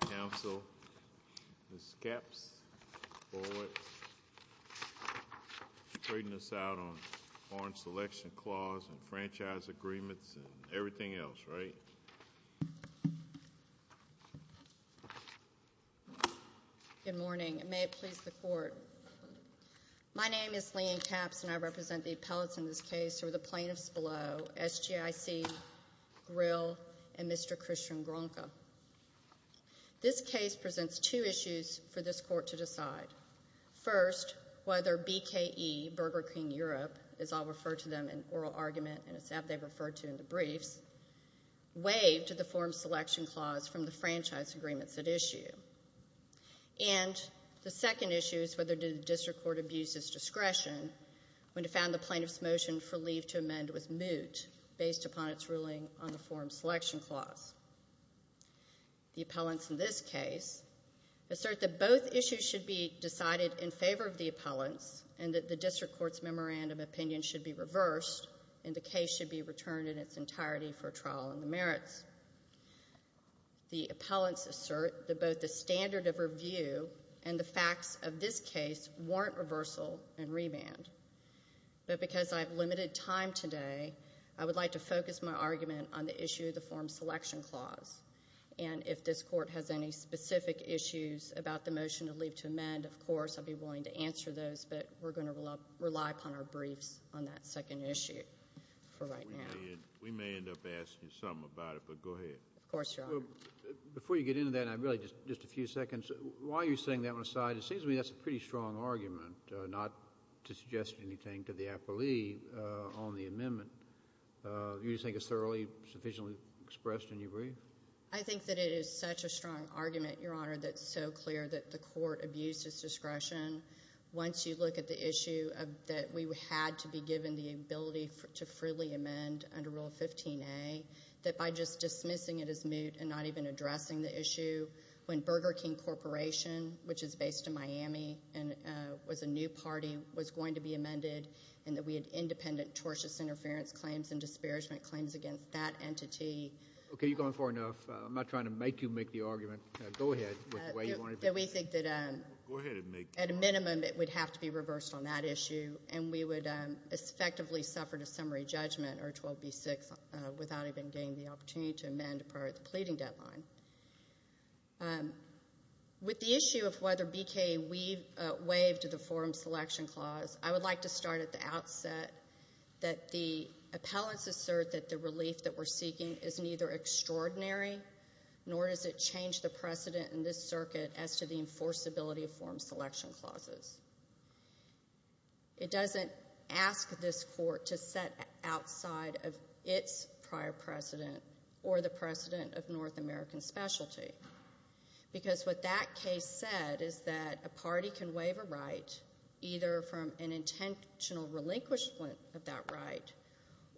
Council, Ms. Capps, Bullitt, trading us out on Foreign Selection Clause and Franchise Agreements and everything else, right? Good morning. May it please the Court. My name is Lene Capps and I represent the appellates in this case who are the plaintiffs below, SGIC, Grill, and Mr. Christian Gronka. This case presents two issues for this Court to decide. First, whether BKE, Burger King Europe, as I'll refer to them in oral argument and it's how they're referred to in the briefs, waived the Foreign Selection Clause from the Franchise Agreements at issue. And the second issue is whether the District Court abused its discretion when it found the plaintiff's motion for leave to amend was moot based upon its ruling on the Foreign Selection Clause. The appellants in this case assert that both issues should be decided in favor of the appellants and that the District Court's memorandum of opinion should be reversed and the case should be returned in its entirety for trial in the merits. The appellants assert that both the standard of review and the facts of this case warrant reversal and remand, but because I have limited time today, I would like to focus my argument on the issue of the Foreign Selection Clause, and if this Court has any specific issues about the motion of leave to amend, of course, I'd be willing to answer those, but we're going to rely upon our briefs on that second issue for right now. We may end up asking you something about it, but go ahead. Of course, Your Honor. Before you get into that, and really just a few seconds, why are you setting that one aside? It seems to me that's a pretty strong argument not to suggest anything to the appellee on the amendment. Do you think it's thoroughly sufficiently expressed in your brief? I think that it is such a strong argument, Your Honor, that it's so clear that the Court abused its discretion. Once you look at the issue that we had to be given the ability to freely amend under Rule 15a, that by just dismissing it as moot and not even addressing the issue, when Burger to Miami was a new party, was going to be amended, and that we had independent tortious interference claims and disparagement claims against that entity. Okay, you've gone far enough. I'm not trying to make you make the argument. Go ahead with the way you want to do it. We think that, at a minimum, it would have to be reversed on that issue, and we would effectively suffer a summary judgment, or 12b-6, without even getting the opportunity to amend prior to the pleading deadline. With the issue of whether BKA waived the forum selection clause, I would like to start at the outset that the appellants assert that the relief that we're seeking is neither extraordinary nor does it change the precedent in this circuit as to the enforceability of forum selection clauses. It doesn't ask this Court to set outside of its prior precedent or the precedent of North American specialty, because what that case said is that a party can waive a right either from an intentional relinquishment of that right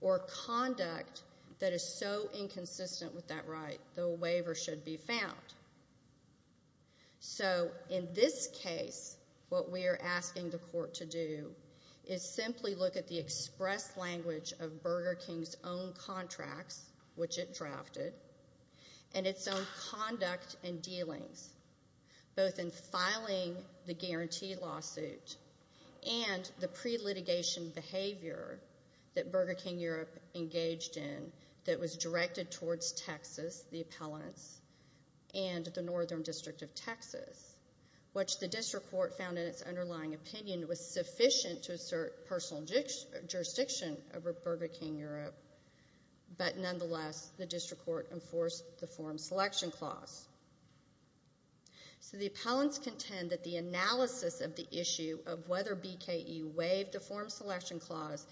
or conduct that is so inconsistent with that right, the waiver should be found. So in this case, what we are asking the Court to do is simply look at the express language of Burger King's own contracts, which it drafted, and its own conduct and dealings, both in filing the guarantee lawsuit and the pre-litigation behavior that Burger King Europe engaged in that was directed towards Texas, the appellants, and the Northern District of Texas, which the district court found in its underlying opinion was sufficient to assert personal jurisdiction over Burger King Europe, but nonetheless, the district court enforced the forum selection clause. So the appellants contend that the analysis of the issue of whether BKE waived the forum selection clause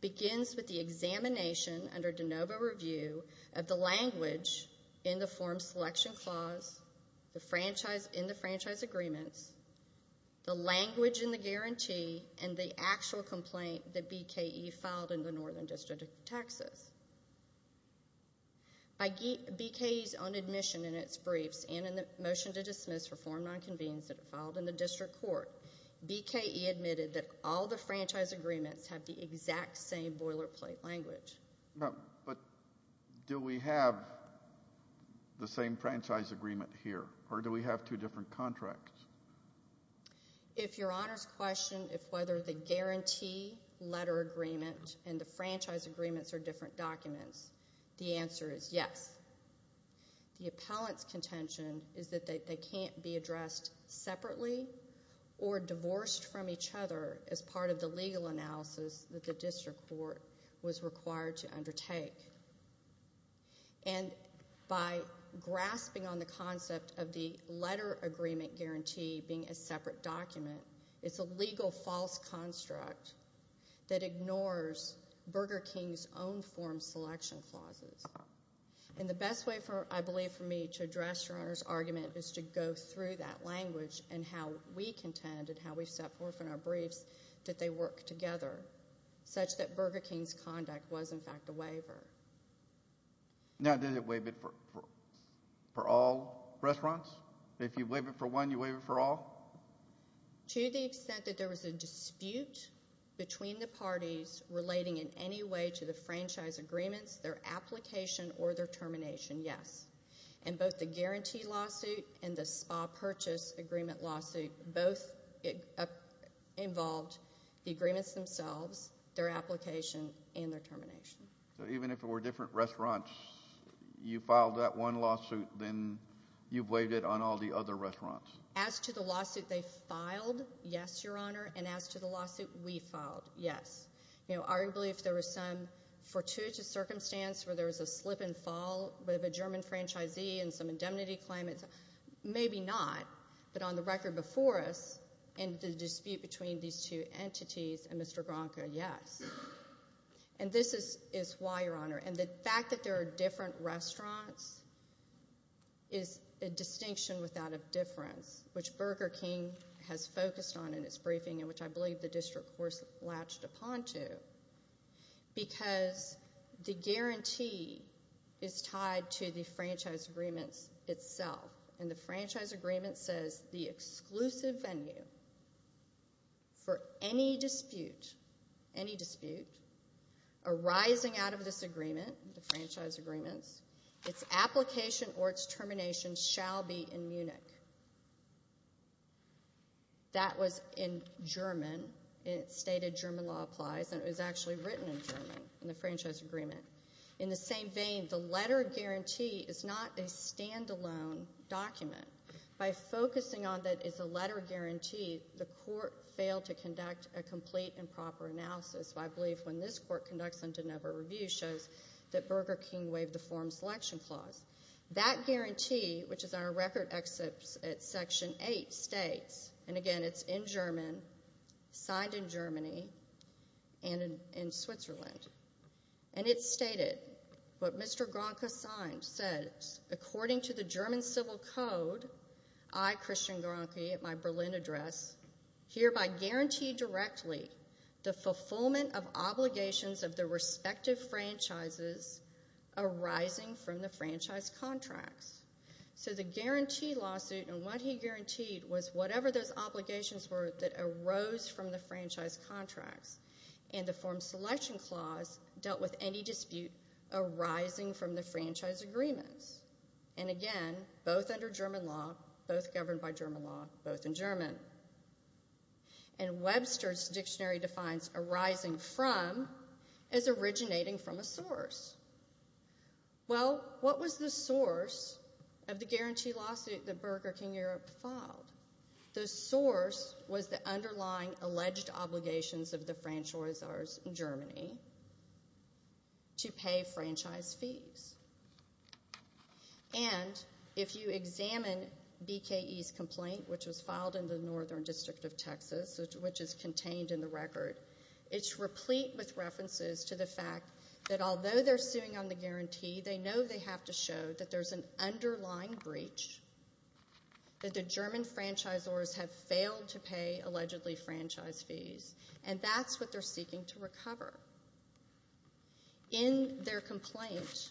begins with the examination under de novo review of the language in the forum selection clause, in the franchise agreements, the language in the guarantee, and the actual complaint that BKE filed in the Northern District of Texas. By BKE's own admission in its briefs and in the motion to dismiss for forum nonconvenience that it filed in the district court, BKE admitted that all the franchise agreements have the exact same boilerplate language. But do we have the same franchise agreement here, or do we have two different contracts? If your honors question if whether the guarantee letter agreement and the franchise agreements are different documents, the answer is yes. The appellant's contention is that they can't be addressed separately or divorced from each other as part of the legal analysis that the district court was required to undertake. And by grasping on the concept of the letter agreement guarantee being a separate document, it's a legal false construct that ignores Burger King's own forum selection clauses. And the best way, I believe, for me to address your honors argument is to go through that language and how we contend and how we've set forth in our briefs that they work together such that Burger King's conduct was, in fact, a waiver. Now does it waive it for all restaurants? If you waive it for one, you waive it for all? To the extent that there was a dispute between the parties relating in any way to the franchise agreements, their application, or their termination, yes. And both the guarantee lawsuit and the spa purchase agreement lawsuit both involved the their application and their termination. So even if it were different restaurants, you filed that one lawsuit, then you waived it on all the other restaurants? As to the lawsuit they filed, yes, your honor. And as to the lawsuit we filed, yes. Arguably, if there was some fortuitous circumstance where there was a slip and fall with a German franchisee and some indemnity claim, maybe not. But on the record before us, in the dispute between these two entities and Mr. Gronkow, yes. And this is why, your honor. And the fact that there are different restaurants is a distinction without a difference, which Burger King has focused on in its briefing, and which I believe the district course latched upon to, because the guarantee is tied to the franchise agreements itself. And the franchise agreement says, the exclusive venue for any dispute, any dispute, arising out of this agreement, the franchise agreements, its application or its termination shall be in Munich. That was in German. It stated German law applies, and it was actually written in German in the franchise agreement. In the same vein, the letter of guarantee is not a stand-alone document. By focusing on that it's a letter of guarantee, the court failed to conduct a complete and proper analysis. I believe when this court conducts them to never review shows that Burger King waived the form selection clause. That guarantee, which is our record at section 8, states, and again it's in German, signed in Germany, and in Switzerland. And it stated, what Mr. Gronke signed said, according to the German civil code, I, Christian Gronke, at my Berlin address, hereby guarantee directly the fulfillment of obligations of the respective franchises arising from the franchise contracts. So the guarantee lawsuit, and what he guaranteed was whatever those obligations were that arose from the franchise contracts, and the form selection clause dealt with any dispute arising from the franchise agreements. And again, both under German law, both governed by German law, both in German. And Webster's dictionary defines arising from as originating from a source. Well, what was the source of the guarantee lawsuit that Burger King Europe filed? The source was the underlying alleged obligations of the franchisors in Germany to pay franchise fees. And if you examine BKE's complaint, which was filed in the Northern District of Texas, which is contained in the record, it's replete with references to the fact that although they're suing on the guarantee, they know they have to show that there's an underlying breach, that the German franchisors have failed to pay allegedly franchise fees. And that's what they're seeking to recover. In their complaint,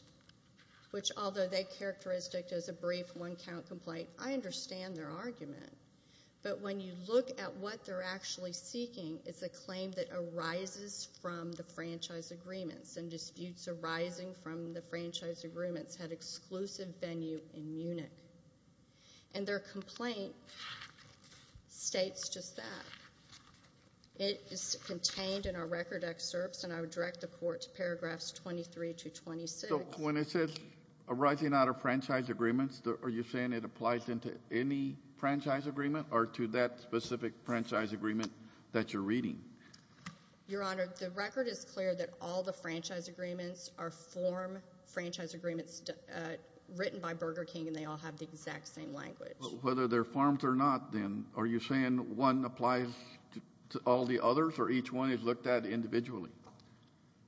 which although they characterized it as a brief one count complaint, I understand their argument. But when you look at what they're actually seeking, it's a claim that arises from the franchise agreements and disputes arising from the franchise agreements had exclusive venue in Munich. And their complaint states just that. It is contained in our record excerpts, and I would direct the Court to paragraphs 23 to 26. So when it says arising out of franchise agreements, are you saying it applies into any franchise agreement or to that specific franchise agreement that you're reading? Your Honor, the record is clear that all the franchise agreements are form franchise agreements written by Burger King, and they all have the exact same language. But whether they're forms or not, then, are you saying one applies to all the others, or each one is looked at individually?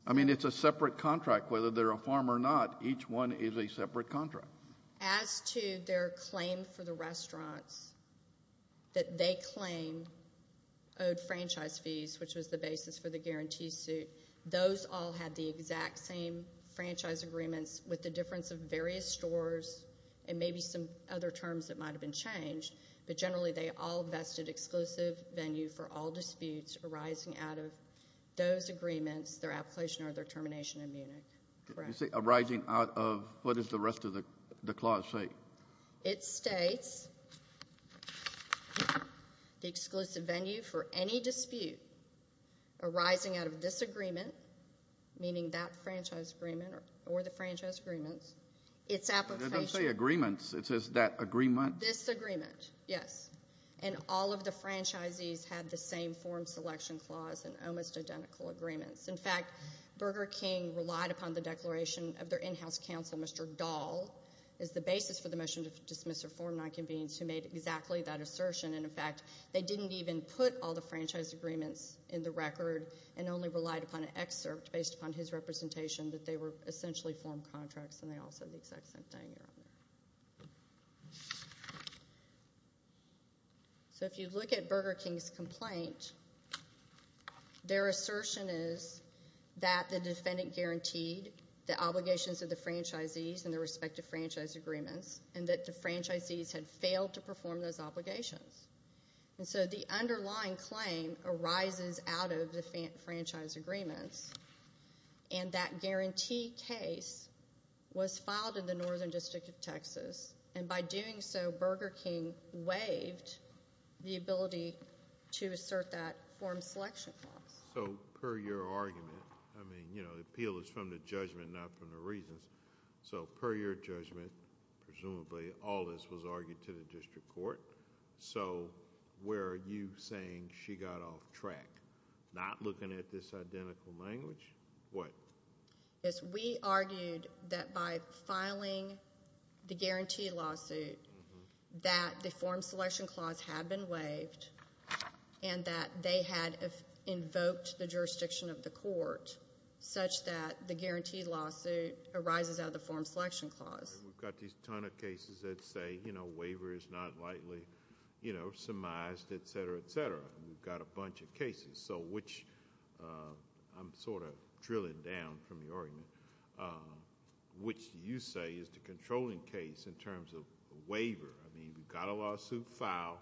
I mean, it's a separate contract. Whether they're a form or not, each one is a separate contract. As to their claim for the restaurants that they claim owed franchise fees, which was the basis for the guarantee suit, those all had the exact same franchise agreements with the difference of various stores and maybe some other terms that might have been changed. But generally, they all vested exclusive venue for all disputes arising out of those agreements, their application or their termination in Munich. You say arising out of, what does the rest of the clause say? It states the exclusive venue for any dispute arising out of this agreement, meaning that franchise agreement or the franchise agreements, its application. It doesn't say agreements. It says that agreement. This agreement, yes. And all of the franchisees had the same form selection clause and almost identical agreements. In fact, Burger King relied upon the declaration of their in-house counsel, Mr. Dahl, as the basis for the motion to dismiss or form nonconvenience, who made exactly that assertion. And, in fact, they didn't even put all the franchise agreements in the record and only relied upon an excerpt based upon his representation that they were essentially form contracts, and they all said the exact same thing. Let me see here. So if you look at Burger King's complaint, their assertion is that the defendant guaranteed the obligations of the franchisees in their respective franchise agreements and that the franchisees had failed to perform those obligations. And so the underlying claim arises out of the franchise agreements, and that guarantee case was filed in the Northern District of Texas, and by doing so, Burger King waived the ability to assert that form selection clause. So per your argument, I mean, you know, the appeal is from the judgment, not from the reasons. So per your judgment, presumably, all this was argued to the district court. So where are you saying she got off track? Not looking at this identical language? What? Yes, we argued that by filing the guaranteed lawsuit that the form selection clause had been waived and that they had invoked the jurisdiction of the court such that the guaranteed lawsuit arises out of the form selection clause. We've got these ton of cases that say, you know, waiver is not likely, you know, surmised, et cetera, et cetera. We've got a bunch of cases, so which I'm sort of drilling down from your argument, which you say is the controlling case in terms of waiver. I mean, we've got a lawsuit filed,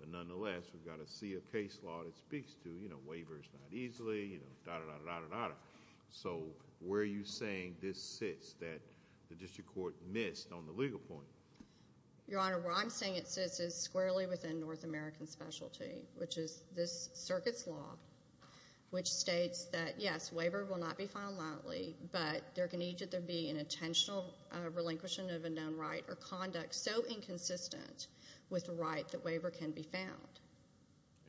but nonetheless, we've got to see a case law that speaks to, you know, waiver is not easily, you know, da-da-da-da-da-da-da. So where are you saying this sits that the district court missed on the legal point? Your Honor, where I'm saying it sits is squarely within North American specialty, which is this circuit's law, which states that, yes, waiver will not be filed lightly, but there can either be an intentional relinquishing of a known right or conduct so inconsistent with the right that waiver can be found.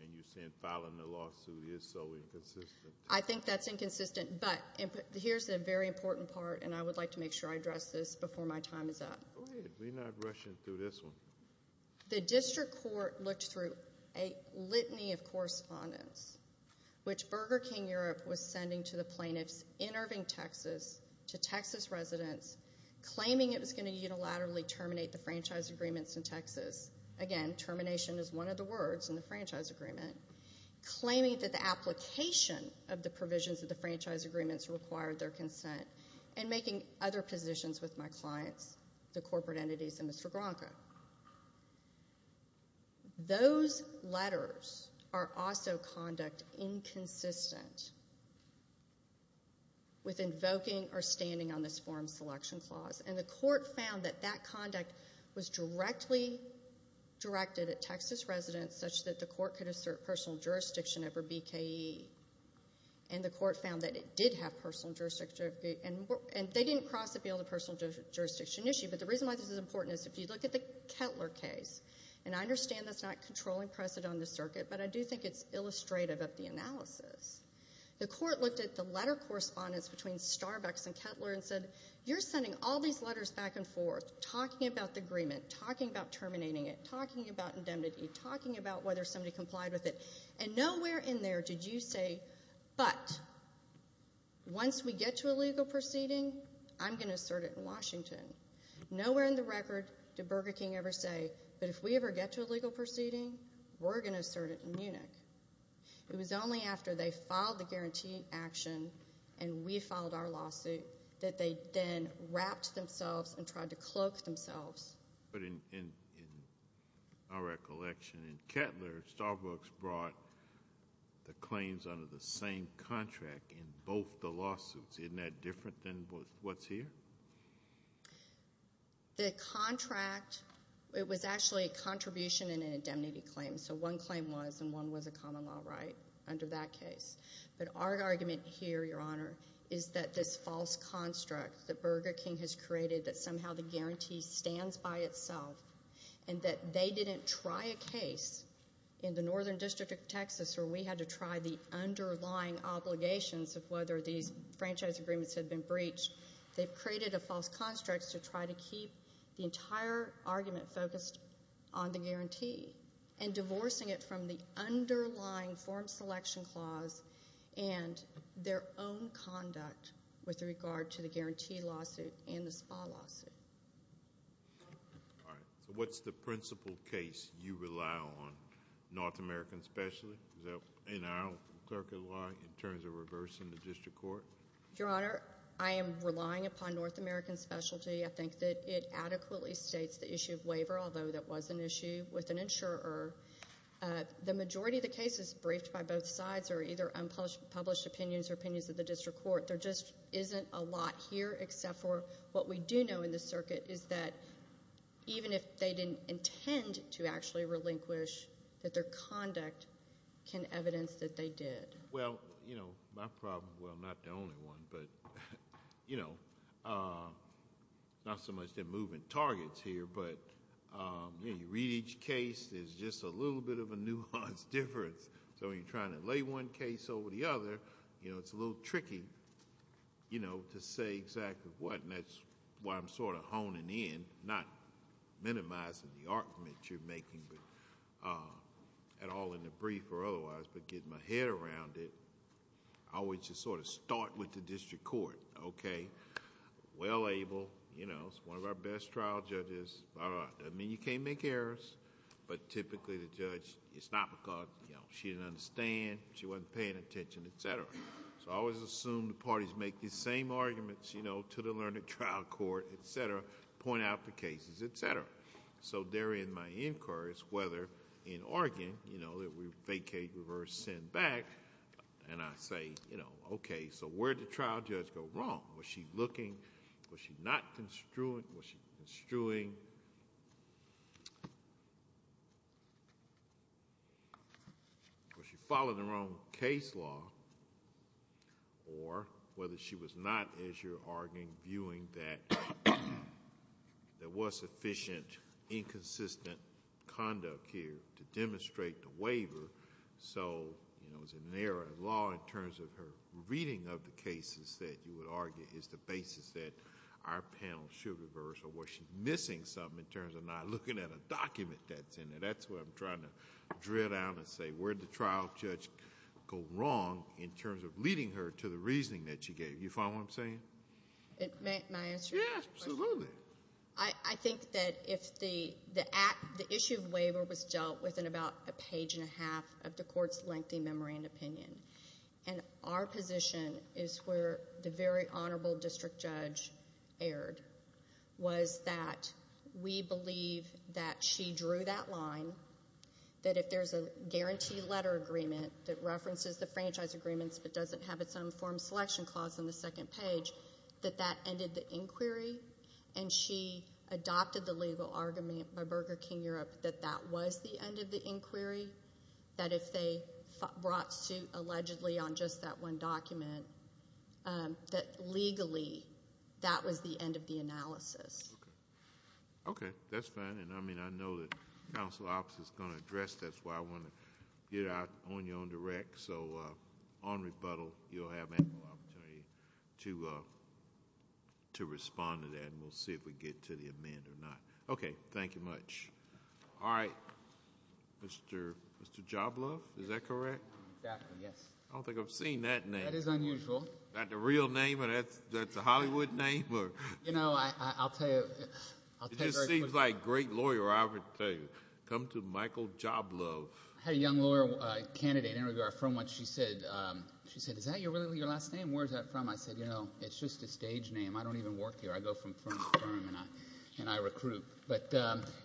And you're saying filing the lawsuit is so inconsistent? I think that's inconsistent, but here's the very important part, and I would like to make sure I address this before my time is up. Go ahead. We're not rushing through this one. The district court looked through a litany of correspondence, which Burger King Europe was sending to the plaintiffs in Irving, Texas, to Texas residents, claiming it was going to unilaterally terminate the franchise agreements in Texas. Again, termination is one of the words in the franchise agreement. Claiming that the application of the provisions of the franchise agreements required their consent and making other positions with my clients, the corporate entities and Mr. Gronkow. Those letters are also conduct inconsistent with invoking or standing on this form selection clause, and the court found that that conduct was directly directed at Texas residents such that the court could assert personal jurisdiction over BKE. And the court found that it did have personal jurisdiction, and they didn't cross the field of personal jurisdiction issue. But the reason why this is important is if you look at the Kettler case, and I understand that's not controlling precedent on the circuit, but I do think it's illustrative of the analysis. The court looked at the letter correspondence between Starbucks and Kettler and said, you're sending all these letters back and forth, talking about the agreement, talking about terminating it, talking about indemnity, talking about whether somebody complied with it, and nowhere in there did you say, but once we get to a legal proceeding, I'm going to assert it in Washington. Nowhere in the record did Burger King ever say, but if we ever get to a legal proceeding, we're going to assert it in Munich. It was only after they filed the guarantee action and we filed our lawsuit that they then wrapped themselves and tried to cloak themselves. But in our recollection, in Kettler, Starbucks brought the claims under the same contract in both the lawsuits. Isn't that different than what's here? The contract, it was actually a contribution and an indemnity claim. So one claim was, and one was a common law right under that case. But our argument here, Your Honor, is that this false construct that Burger King has created, that somehow the guarantee stands by itself, and that they didn't try a case in the Northern District of Texas where we had to try the underlying obligations of whether these franchise agreements had been breached. They've created a false construct to try to keep the entire argument focused on the guarantee and divorcing it from the underlying form selection clause and their own conduct with regard to the guarantee lawsuit and the SPA lawsuit. All right. So what's the principal case you rely on, North American Specialty? Is that in our clerical line in terms of reversing the district court? Your Honor, I am relying upon North American Specialty. I think that it adequately states the issue of waiver, although that was an issue with an insurer. The majority of the cases briefed by both sides are either unpublished opinions or opinions of the district court. There just isn't a lot here except for what we do know in the circuit is that even if they didn't intend to actually relinquish, that their conduct can evidence that they did. Well, you know, my problem, well, not the only one, but, you know, not so much the movement targets here, but you read each case, there's just a little bit of a nuanced difference. So when you're trying to lay one case over the other, you know, it's a little tricky, you know, to say exactly what, and that's why I'm sort of honing in, not minimizing the argument you're making at all in the brief or otherwise, but getting my head around it. I always just sort of start with the district court, okay? Well-able, you know, it's one of our best trial judges, doesn't mean you can't make errors, but typically the judge, it's not because, you know, she didn't understand, she wasn't paying attention, et cetera. So I always assume the parties make these same arguments, you know, to the learned trial court, et cetera, point out the cases, et cetera. So there in my inquiries, whether in Oregon, you know, that we vacate, reverse, send back, and I say, you know, okay, so where did the trial judge go wrong? Was she looking, was she not construing, was she following her own case law, or whether she was not, as you're arguing, viewing that there was sufficient inconsistent conduct here to demonstrate the waiver, so, you know, it was an error of law in terms of her reading of the cases that you would argue is the basis that our panel should reverse or was she missing something in terms of not looking at a document that's in there? That's what I'm trying to drill down and say, where did the trial judge go wrong in terms of leading her to the reasoning that she gave? You follow what I'm saying? May I answer your question? Yeah, absolutely. I think that if the issue of waiver was dealt with in about a page and a half of the court's lengthy memory and opinion, and our position is where the very honorable district judge erred, was that we believe that she drew that line, that if there's a guaranteed letter agreement that references the franchise agreements but doesn't have its own form selection clause on the second page, that that ended the inquiry, and she adopted the legal argument by Burger King Europe that that was the end of the inquiry, that if they brought suit allegedly on just that one document, that legally that was the end of the analysis. Okay. Okay. That's fine. And I mean, I know that counsel's office is going to address this. That's why I want to get out on your own direct. So on rebuttal, you'll have ample opportunity to respond to that, and we'll see if we get to the amend or not. Okay. Thank you much. All right. Mr. Joblove, is that correct? Exactly. Yes. I don't think I've seen that name. That is unusual. Is that the real name or that's a Hollywood name? You know, I'll tell you. It just seems like great lawyer, I would tell you. Come to Michael Joblove. I had a young lawyer candidate interviewer from when she said, she said, is that really your last name? Where is that from? I said, you know, it's just a stage name. I don't even work here. I go from firm to firm, and I recruit. But,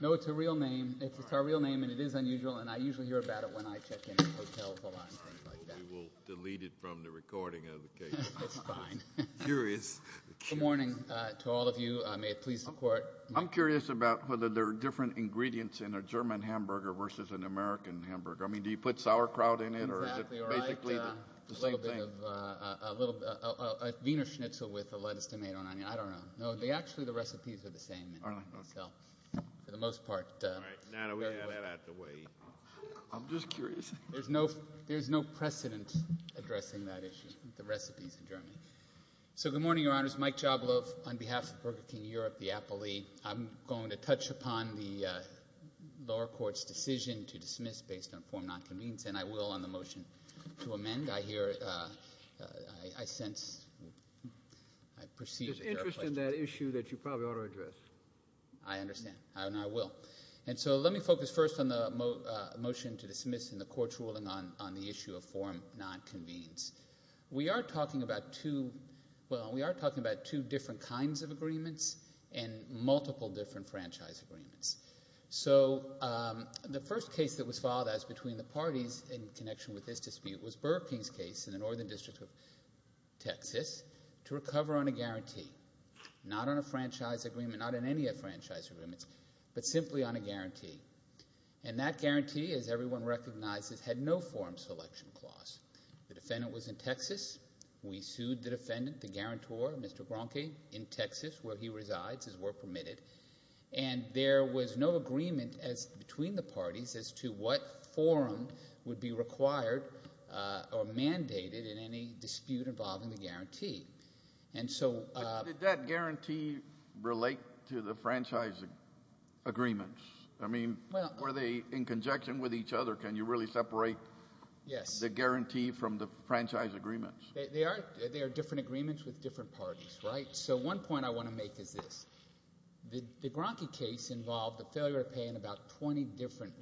no, it's a real name. It's a real name, and it is unusual, and I usually hear about it when I check into hotels a lot and things like that. We will delete it from the recording of the case. It's fine. Curious. Good morning to all of you. May it please the Court. I'm curious about whether there are different ingredients in a German hamburger versus an American hamburger. I mean, do you put sauerkraut in it, or is it basically the same thing? A little bit of a Wiener schnitzel with a lettuce tomato on it. I don't know. No, actually, the recipes are the same. For the most part. All right. Now that we have that out of the way. I'm just curious. There's no precedent addressing that issue, the recipes in Germany. So, good morning, Your Honors. Mike Jablow on behalf of Burger King Europe, the appellee. I'm going to touch upon the lower court's decision to dismiss based on form not convened, and I will on the motion to amend. I hear, I sense, I perceive that there are questions. I understand that issue that you probably ought to address. I understand, and I will. And so, let me focus first on the motion to dismiss in the court's ruling on the issue of form not convened. We are talking about two, well, we are talking about two different kinds of agreements and multiple different franchise agreements. So, the first case that was filed as between the parties in connection with this dispute was Burger King's case in the northern district of Texas, not on a franchise agreement, not on any of franchise agreements, but simply on a guarantee. And that guarantee, as everyone recognizes, had no form selection clause. The defendant was in Texas. We sued the defendant, the guarantor, Mr. Bronke, in Texas, where he resides, as were permitted. And there was no agreement between the parties as to what form would be required or mandated in any dispute involving the guarantee. And so... Did that guarantee relate to the franchise agreements? I mean, were they in conjunction with each other? Can you really separate the guarantee from the franchise agreements? They are different agreements with different parties, right? So, one point I want to make is this. The Bronke case involved a failure to pay in about 20 different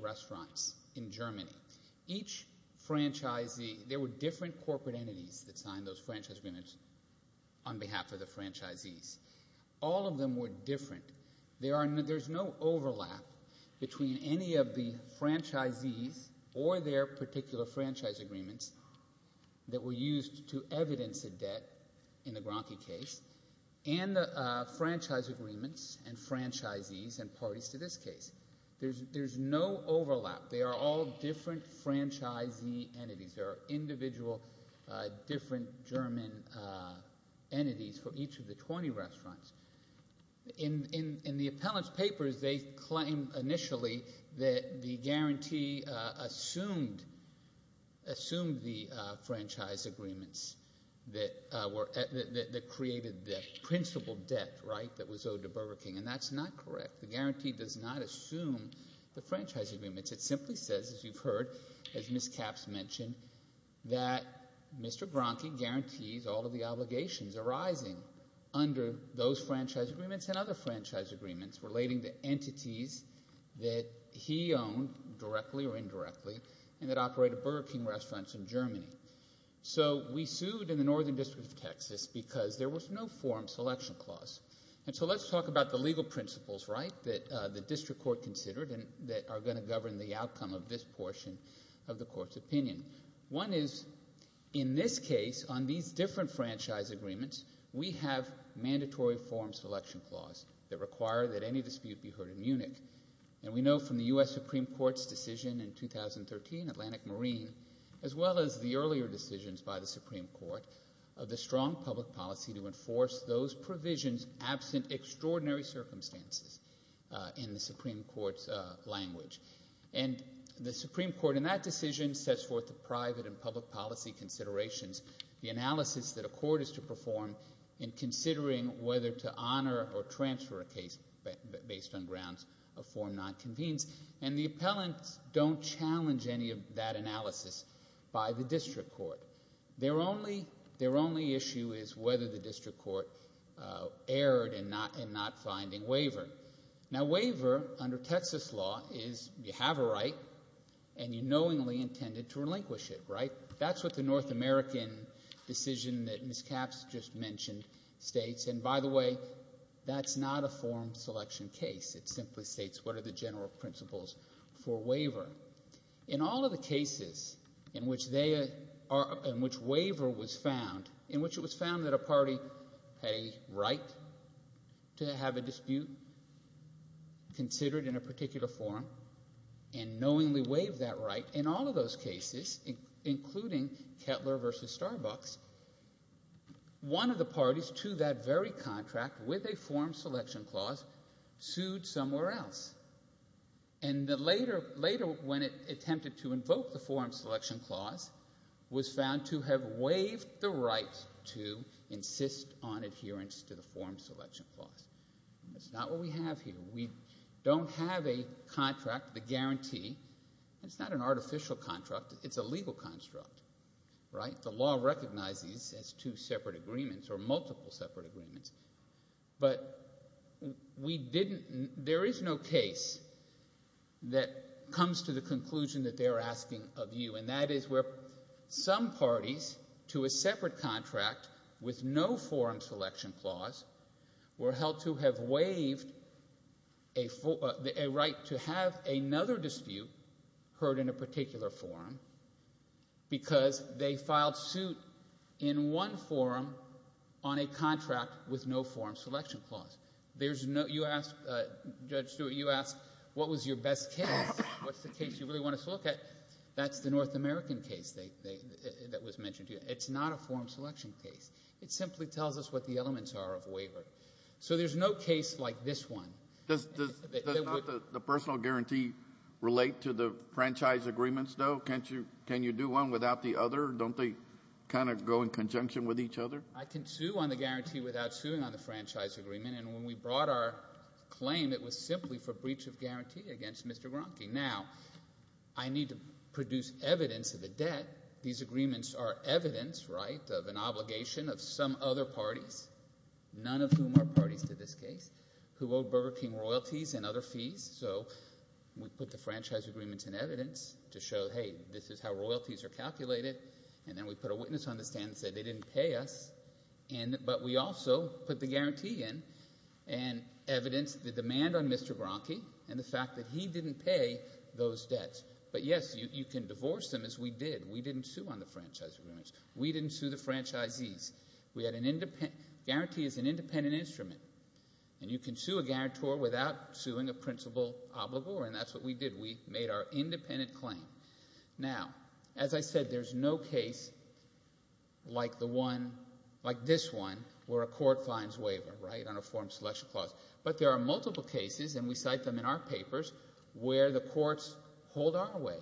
Each franchisee, there were different corporate entities that signed those franchise agreements on behalf of the franchisees. All of them were different. There's no overlap between any of the franchisees or their particular franchise agreements that were used to evidence a debt in the Bronke case and the franchise agreements and franchisees and parties to this case. There's no overlap. They are all different franchisee entities. There are individual different German entities for each of the 20 restaurants. In the appellant's papers, they claim initially that the guarantee assumed the franchise agreements that created the principal debt, right, that was owed to Burger King. And that's not correct. The guarantee does not assume the franchise agreements. It simply says, as you've heard, as Ms. Capps mentioned, that Mr. Bronke guarantees all of the obligations arising under those franchise agreements and other franchise agreements relating to entities that he owned directly or indirectly and that operated Burger King restaurants in Germany. So, we sued in the Northern District of Texas because there was no forum selection clause. And so, let's talk about the legal principles, right, that the outcome of this portion of the court's opinion. One is, in this case, on these different franchise agreements, we have mandatory forum selection clause that require that any dispute be heard in Munich. And we know from the U.S. Supreme Court's decision in 2013, Atlantic Marine, as well as the earlier decisions by the Supreme Court of the strong public policy to enforce those provisions absent extraordinary circumstances in the Supreme Court's language. And the Supreme Court, in that decision, sets forth the private and public policy considerations, the analysis that a court is to perform in considering whether to honor or transfer a case based on grounds of forum nonconvenience. And the appellants don't challenge any of that analysis by the district court. Their only issue is whether the district court erred in not finding waiver. Now, waiver, under Texas law, is you have a right and you knowingly intended to relinquish it, right? That's what the North American decision that Ms. Capps just mentioned states. And by the way, that's not a forum selection case. It simply states what are the general principles for waiver. In all of the cases in which waiver was found, in which it was found to have a dispute considered in a particular forum and knowingly waived that right, in all of those cases, including Kettler v. Starbucks, one of the parties to that very contract with a forum selection clause sued somewhere else. And later, when it attempted to invoke the forum selection clause, was found to have waived the right to insist on adherence to the forum selection clause. That's not what we have here. We don't have a contract, the guarantee. It's not an artificial contract. It's a legal construct, right? The law recognizes these as two separate agreements or multiple separate agreements. But we didn't, there is no case that comes to the conclusion that they're asking of you. And that is where some parties to a separate contract with no forum selection clause were held to have waived a right to have another dispute heard in a particular forum because they filed suit in one forum on a contract with no forum selection clause. There's no, you ask, Judge Stewart, you ask, what was your best case? What's the case you really want us to look at? That's the North American case that was mentioned to you. It's not a forum selection case. It simply tells us what the elements are of waiver. So there's no case like this one. Does not the personal guarantee relate to the franchise agreements, though? Can you do one without the other? Don't they kind of go in conjunction with each other? I can sue on the guarantee without suing on the franchise agreement. And when we brought our claim, it was simply for breach of guarantee against Mr. Gronke. Now, I need to produce evidence of the debt. These agreements are evidence, right, of an obligation. Of some other parties, none of whom are parties to this case, who owe Burger King royalties and other fees. So we put the franchise agreements in evidence to show, hey, this is how royalties are calculated. And then we put a witness on the stand and said they didn't pay us. But we also put the guarantee in and evidenced the demand on Mr. Gronke and the fact that he didn't pay those debts. But, yes, you can divorce them as we did. We didn't sue on the franchise agreements. We didn't sue the franchisees. We had an independent guarantee as an independent instrument. And you can sue a guarantor without suing a principal obligor, and that's what we did. We made our independent claim. Now, as I said, there's no case like the one, like this one, where a court finds waiver, right, on a form selection clause. But there are multiple cases, and we cite them in our papers, where the courts hold our way.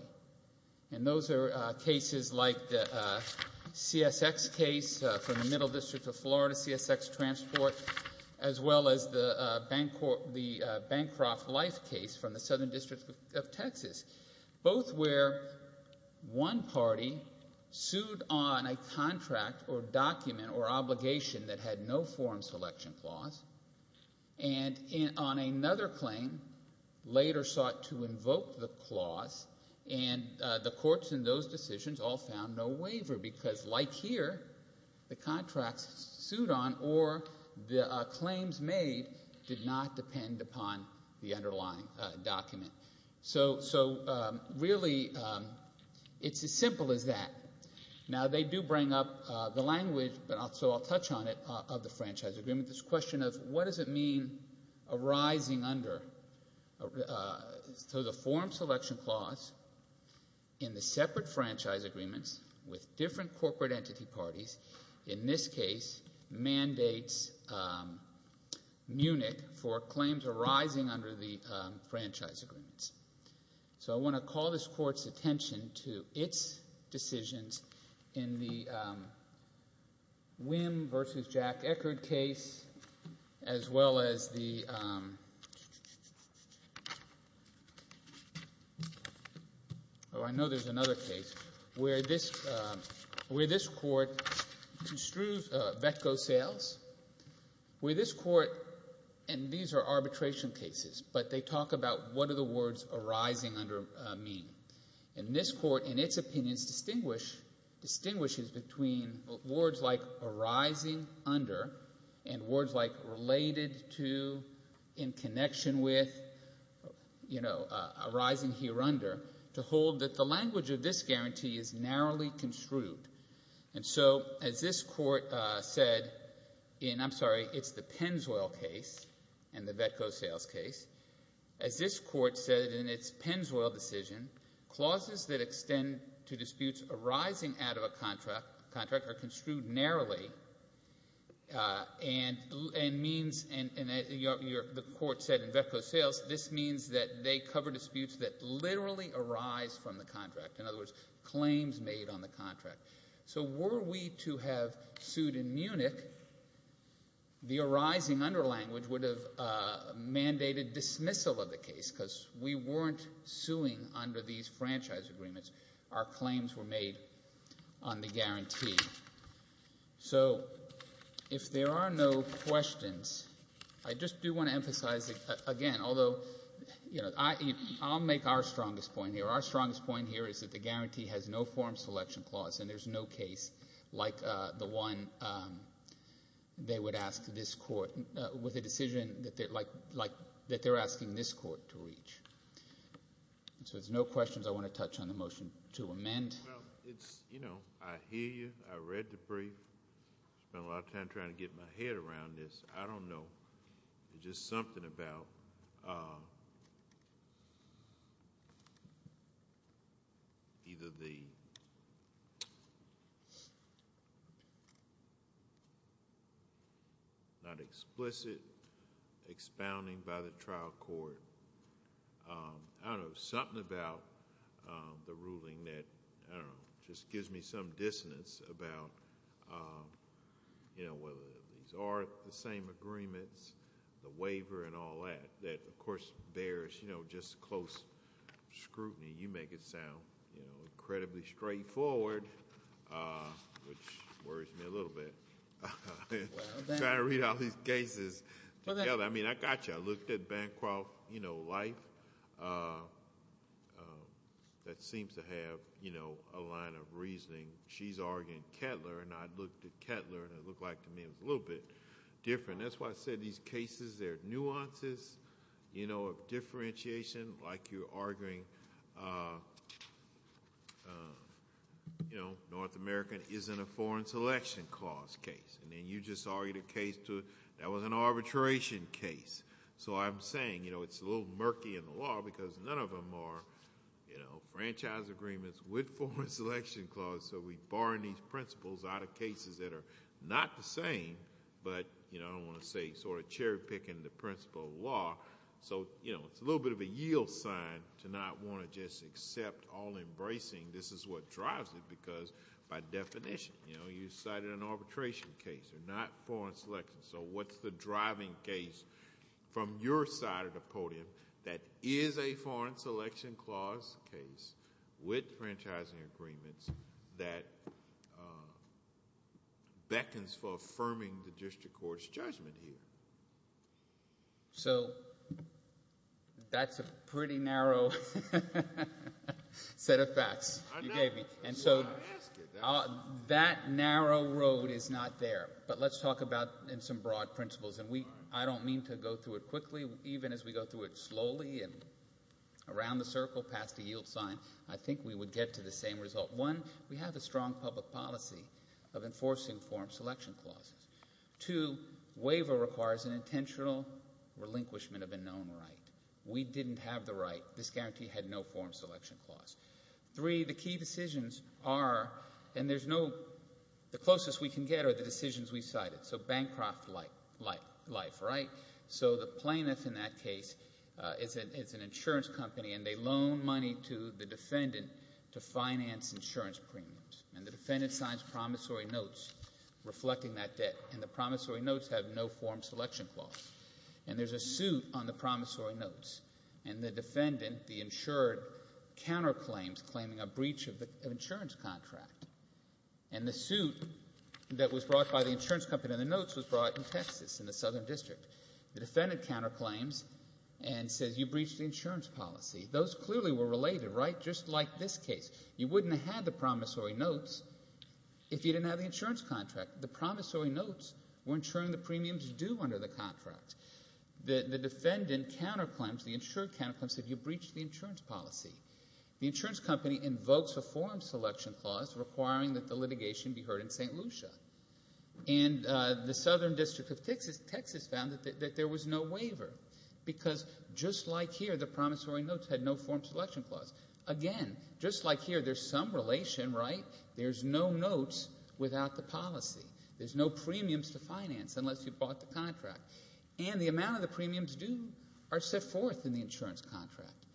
And those are cases like the CSX case from the Middle District of Florida, CSX transport, as well as the Bancroft Life case from the Southern District of Texas, both where one party sued on a contract or document or obligation that had no form selection clause and on another claim later sought to invoke the franchise agreement. And the courts in those decisions all found no waiver because, like here, the contracts sued on or the claims made did not depend upon the underlying document. So, really, it's as simple as that. Now, they do bring up the language, so I'll touch on it, of the franchise agreement, this question of what does it mean arising under, so the form selection clause in the separate franchise agreements with different corporate entity parties, in this case, mandates Munich for claims arising under the franchise agreements. So I want to call this Court's attention to its decisions in the Wim versus Jack Eckerd case, as well as the, oh, I know there's another case, where this Court construes VETCO sales, where this Court, and these are arbitration cases, but they talk about what are the words arising under mean. And this Court, in its opinions, distinguishes between words like arising under and words like related to, in connection with, you know, arising here under, to hold that the language of this guarantee is narrowly construed. And so, as this Court said in, I'm sorry, it's the Penswell case and the VETCO sales case, as this Court said in its Penswell decision, clauses that extend to disputes arising out of a contract are construed narrowly and means, and the Court said in VETCO sales, this means that they cover disputes that literally arise from the contract. In other words, claims made on the contract. So were we to have sued in Munich, the arising under language would have mandated dismissal of the case, because we weren't suing under these franchise agreements. Our claims were made on the guarantee. So, if there are no questions, I just do want to emphasize, again, although, you know, I'll make our strongest point here. Our strongest point here is that the guarantee has no form of selection clause, and there's no case like the one they would ask this Court with a decision that they're asking this Court to reach. So, if there's no questions, I want to touch on the motion to amend. Well, it's, you know, I hear you. I read the brief. Spent a lot of time trying to get my head around this. I don't know. There's just something about either the not explicit expounding by the trial court. I don't know. Something about the ruling that, I don't know, just gives me some dissonance about, you know, these are the same agreements, the waiver and all that, that, of course, bears, you know, just close scrutiny. You make it sound, you know, incredibly straightforward, which worries me a little bit. Trying to read all these cases together. I mean, I got you. I looked at Bancroft, you know, life. That seems to have, you know, a line of reasoning. She's arguing Kettler, and I looked at Kettler, and it looked like to me it was a little bit different. That's why I said these cases, there are nuances, you know, of differentiation, like you're arguing, you know, North America isn't a foreign selection clause case, and then you just argued a case that was an arbitration case. So I'm saying, you know, it's a little murky in the law because none of them are, you know, franchise agreements with foreign selection clause, so we bar in these principles out of cases that are not the same, but, you know, I don't want to say sort of cherry-picking the principle of law. So, you know, it's a little bit of a yield sign to not want to just accept all embracing this is what drives it because, by definition, you know, you cited an arbitration case. They're not foreign selection. So what's the driving case from your side of the podium that is a foreign selection clause case with franchising agreements that beckons for affirming the district court's judgment here? So that's a pretty narrow set of facts you gave me, and so that narrow road is not there, but let's talk about in some broad principles, and I don't mean to go through it quickly, even as we go through it slowly and around the circle past the yield sign, I think we would get to the same result. One, we have a strong public policy of enforcing foreign selection clauses. Two, waiver requires an intentional relinquishment of a known right. We didn't have the right. This guarantee had no foreign selection clause. Three, the key decisions are, and there's no... The closest we can get are the decisions we cited, so Bancroft Life, right? So the plaintiff in that case is an insurance company, and they loan money to the defendant to finance insurance premiums, and the defendant signs promissory notes reflecting that debt, and the promissory notes have no foreign selection clause, and there's a suit on the promissory notes, and the defendant, the insured, counterclaims claiming a breach of an insurance contract, and the suit that was brought by the insurance company and the notes was brought in Texas, in the Southern District. The defendant counterclaims and says, you breached the insurance policy. Those clearly were related, right? Just like this case. You wouldn't have had the promissory notes if you didn't have the insurance contract. The promissory notes were insuring the premiums due under the contract. The defendant counterclaims, the insured counterclaims, said you breached the insurance policy. The insurance company invokes a foreign selection clause requiring that the litigation be heard in St. Lucia, and the Southern District of Texas found that there was no waiver, because just like here, the promissory notes had no foreign selection clause. Again, just like here, there's some relation, right? There's no notes without the policy. There's no premiums to finance unless you bought the contract, and the amount of the premiums due are set forth in the insurance contract,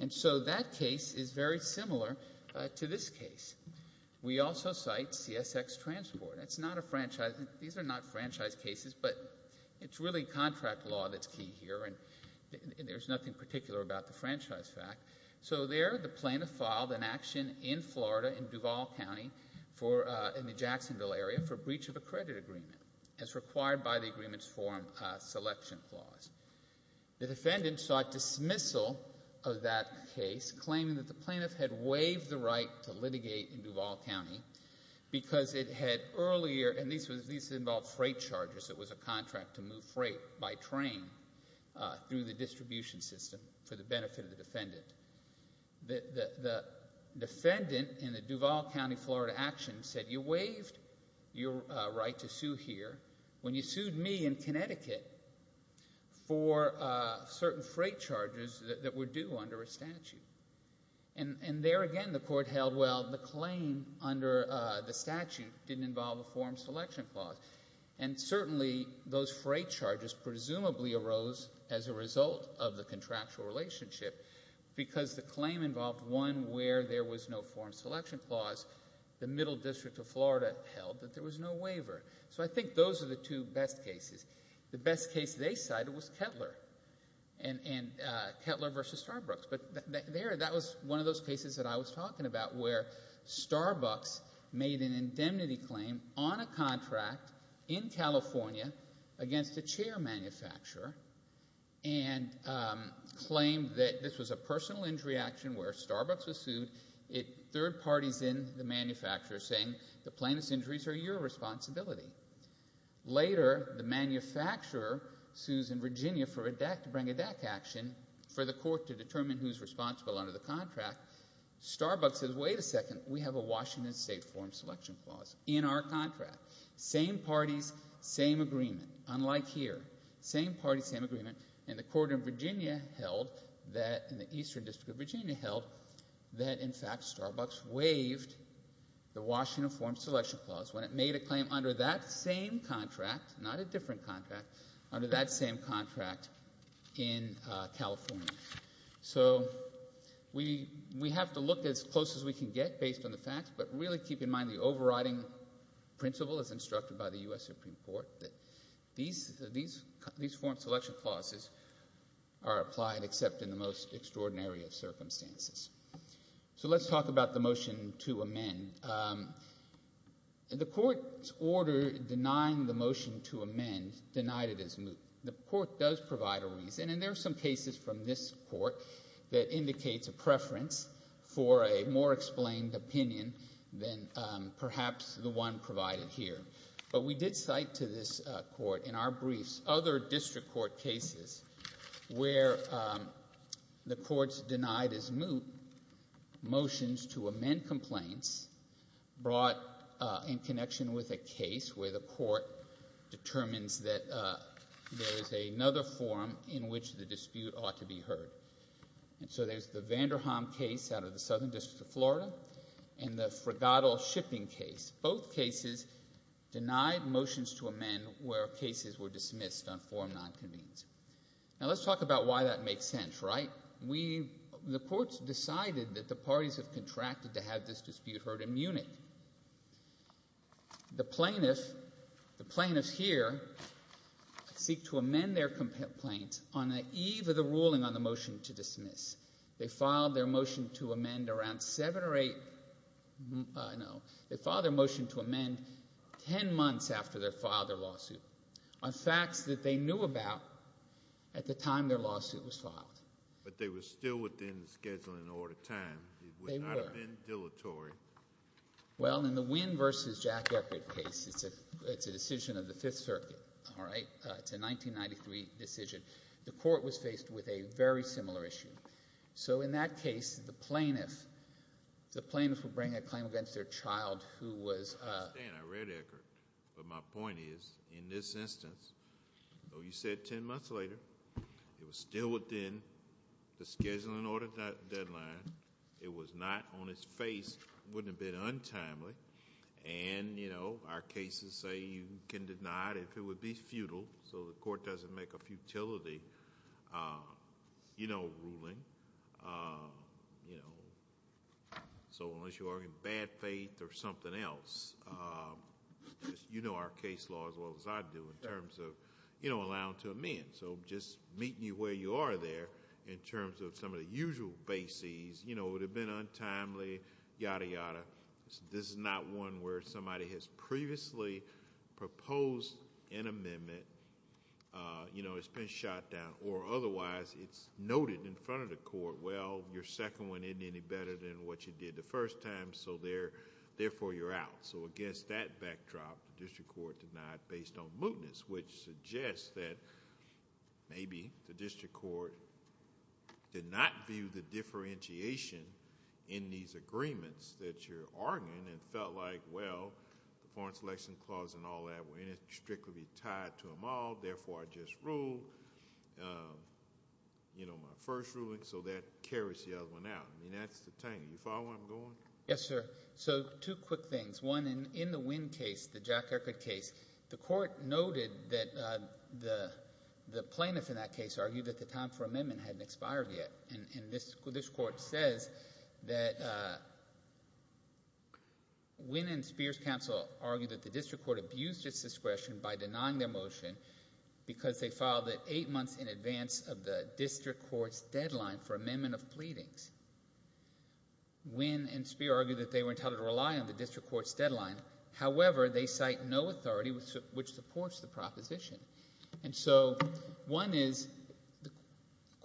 and so that case is very similar to this case. We also cite CSX Transport. It's not a franchise... These are not franchise cases, but it's really contract law that's key here, and there's nothing particular about the franchise fact. So there, the plaintiff filed an action in Florida, in Duval County, in the Jacksonville area, for breach of a credit agreement, as required by the agreement's foreign selection clause. The defendant sought dismissal of that case, claiming that the plaintiff had waived the right to litigate in Duval County, because it had earlier... And these involved freight charges. It was a contract to move freight by train through the distribution system for the benefit of the defendant. The defendant in the Duval County, Florida action said, you waived your right to sue here when you sued me in Connecticut for certain freight charges that were due under a statute. And there again, the court held, well, the claim under the statute didn't involve a foreign selection clause. And certainly, those freight charges presumably arose as a result of the contractual relationship, because the claim involved one where there was no foreign selection clause. The Middle District of Florida held that there was no waiver. So I think those are the two best cases. The best case they cited was Kettler, and Kettler v. Starbucks. But there, that was one of those cases that I was talking about where Starbucks made an indemnity claim on a contract in California against a chair manufacturer and claimed that this was a personal injury action where Starbucks was sued. Third party's in, the manufacturer, saying the plaintiff's injuries are your responsibility. Later, the manufacturer sues in Virginia to bring a DAC action for the court to determine who's responsible under the contract. Starbucks says, wait a second, we have a Washington State foreign selection clause in our contract. Same parties, same agreement, unlike here. Same party, same agreement. And the court in Virginia held, the Eastern District of Virginia held, that in fact, Starbucks waived the Washington foreign selection clause when it made a claim under that same contract, not a different contract, under that same contract in California. So we have to look as close as we can get based on the facts, but really keep in mind the overriding principle as instructed by the U.S. Supreme Court that these foreign selection clauses are applied except in the most extraordinary of circumstances. So let's talk about the motion to amend. The court's order denying the motion to amend is denied as moot. The court does provide a reason, and there are some cases from this court that indicates a preference for a more explained opinion than perhaps the one provided here. But we did cite to this court in our briefs other district court cases where the court's denied as moot motions to amend complaints brought in connection with a case where the court determines that there is another forum in which the dispute ought to be heard. And so there's the Vanderham case out of the Southern District of Florida and the Fregado shipping case. Both cases denied motions to amend where cases were dismissed on forum nonconvenience. Now, let's talk about why that makes sense, right? We... the court's decided that the parties have contracted to have this dispute heard in Munich. The plaintiff... the plaintiffs here seek to amend their complaints on the eve of the ruling on the motion to dismiss. They filed their motion to amend around seven or eight... Uh, no. They filed their motion to amend ten months after they filed their lawsuit on facts that they knew about at the time their lawsuit was filed. But they were still within the scheduling order time. They were. It would not have been dilatory. Well, in the Wynn v. Jack Eckert case, it's a decision of the Fifth Circuit, all right? It's a 1993 decision. The court was faced with a very similar issue. So in that case, the plaintiff... the plaintiff would bring a claim against their child who was, uh... I understand. I read Eckert. But my point is, in this instance, though you said ten months later, it was still within the scheduling order deadline. It was not on its face. It wouldn't have been untimely. And, you know, our cases say you can deny it if it would be futile. So the court doesn't make a futility, uh, you know, ruling. Uh, you know. So unless you are in bad faith or something else, uh, you know our case law as well as I do in terms of, you know, allowing to amend. So just meeting you where you are there in terms of some of the usual bases. You know, it would have been untimely. Yada, yada. This is not one where somebody has previously proposed an amendment. Uh, you know, it's been shot down. Or otherwise, it's noted in front of the court. Well, your second one isn't any better than what you did the first time, so therefore you're out. So against that backdrop, the district court denied based on mootness, which suggests that maybe the district court did not view the differentiation in these agreements that you're arguing and felt like, well, the Foreign Selection Clause and all that were in it strictly tied to them all, therefore I just ruled, uh, you know, my first ruling, so that carries the other one out. I mean, that's the thing. You follow where I'm going? Yes, sir. So two quick things. One, in the Wynne case, the Jack Erkert case, the court noted that, uh, the plaintiff in that case argued that the time for amendment hadn't expired yet. And this court says that, uh, Wynne and Spears counsel argued that the district court abused its discretion by denying their motion because they filed it eight months in advance of the district court's deadline for amendment of pleadings. Wynne and Spears argued that they were entitled to rely on the district court's deadline. However, they cite no authority which supports the proposition. And so, one is, the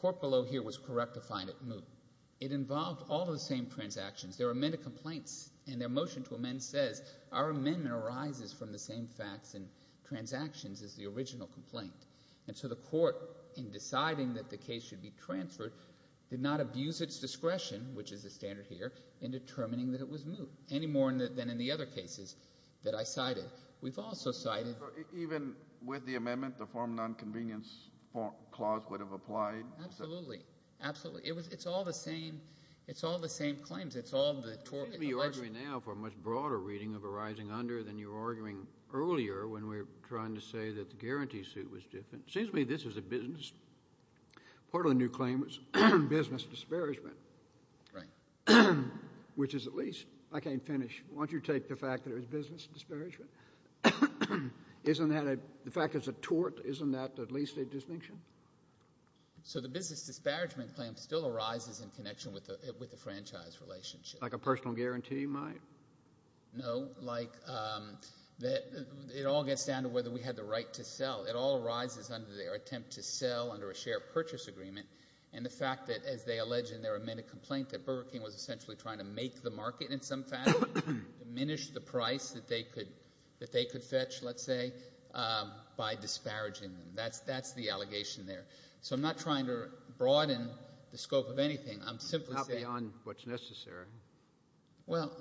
court below here was correct to find it moot. It involved all the same transactions. There were many complaints, and their motion to amend says, our amendment arises from the same facts and transactions as the original complaint. And so the court, in deciding that the case should be transferred, did not abuse its discretion, which is the standard here, in determining that it was moot, any more than in the other cases that I cited. We've also cited... Even with the amendment, the form non-convenience clause would have applied? Absolutely. Absolutely. It's all the same, it's all the same claims. It's all the... You're arguing now for a much broader reading of a rising-under than you were arguing earlier when we were trying to say that the guarantee suit was different. It seems to me this is a business. Part of the new claim was business disparagement. Right. Which is at least... I can't finish. Why don't you take the fact that it was business disparagement? Isn't that a... The fact that it's a tort, isn't that at least a distinction? So the business disparagement claim still arises in connection with the franchise relationship. Like a personal guarantee might? No. Like it all gets down to whether we had the right to sell. It all arises under their attempt to sell under a share purchase agreement and the fact that as they allege in their amended complaint that Burger King was essentially trying to make the market in some fashion, diminish the price that they could fetch, let's say, by disparaging them. That's the allegation there. So I'm not trying to broaden the scope of anything. I'm simply saying... Not beyond what's necessary. Well,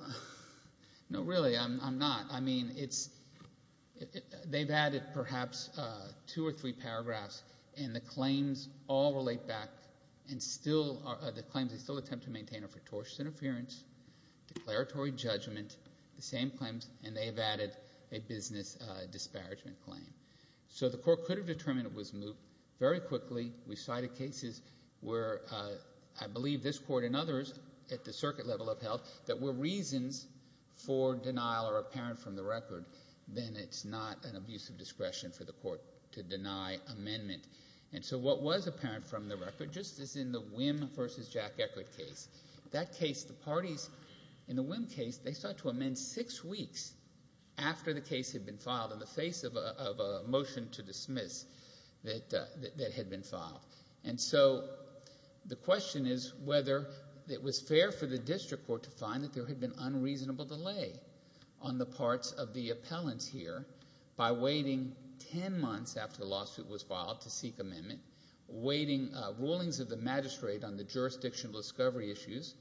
no really, I'm not. I mean, it's... They've added perhaps two or three paragraphs and the claims all relate back and still, the claims they still attempt to maintain are for tortious interference, declaratory judgment, the same claims, and they've added a business disparagement claim. So the court could have determined it was moot very quickly. We cited cases where I believe this court and others at the circuit level have held that were reasons for denial or apparent from the record. Then it's not an abuse of discretion for the court to deny amendment. And so what was apparent from the record, just as in the Wim v. Jack Eckert case, that case, the parties in the Wim case, they sought to amend six weeks after the case had been filed in the face of a motion to dismiss that had been filed. And so the question is whether it was fair for the district court to find that there had been unreasonable delay on the parts of the appellants here by waiting ten months after the lawsuit was filed to seek amendment, waiting rulings of the magistrate on the jurisdictional discovery issues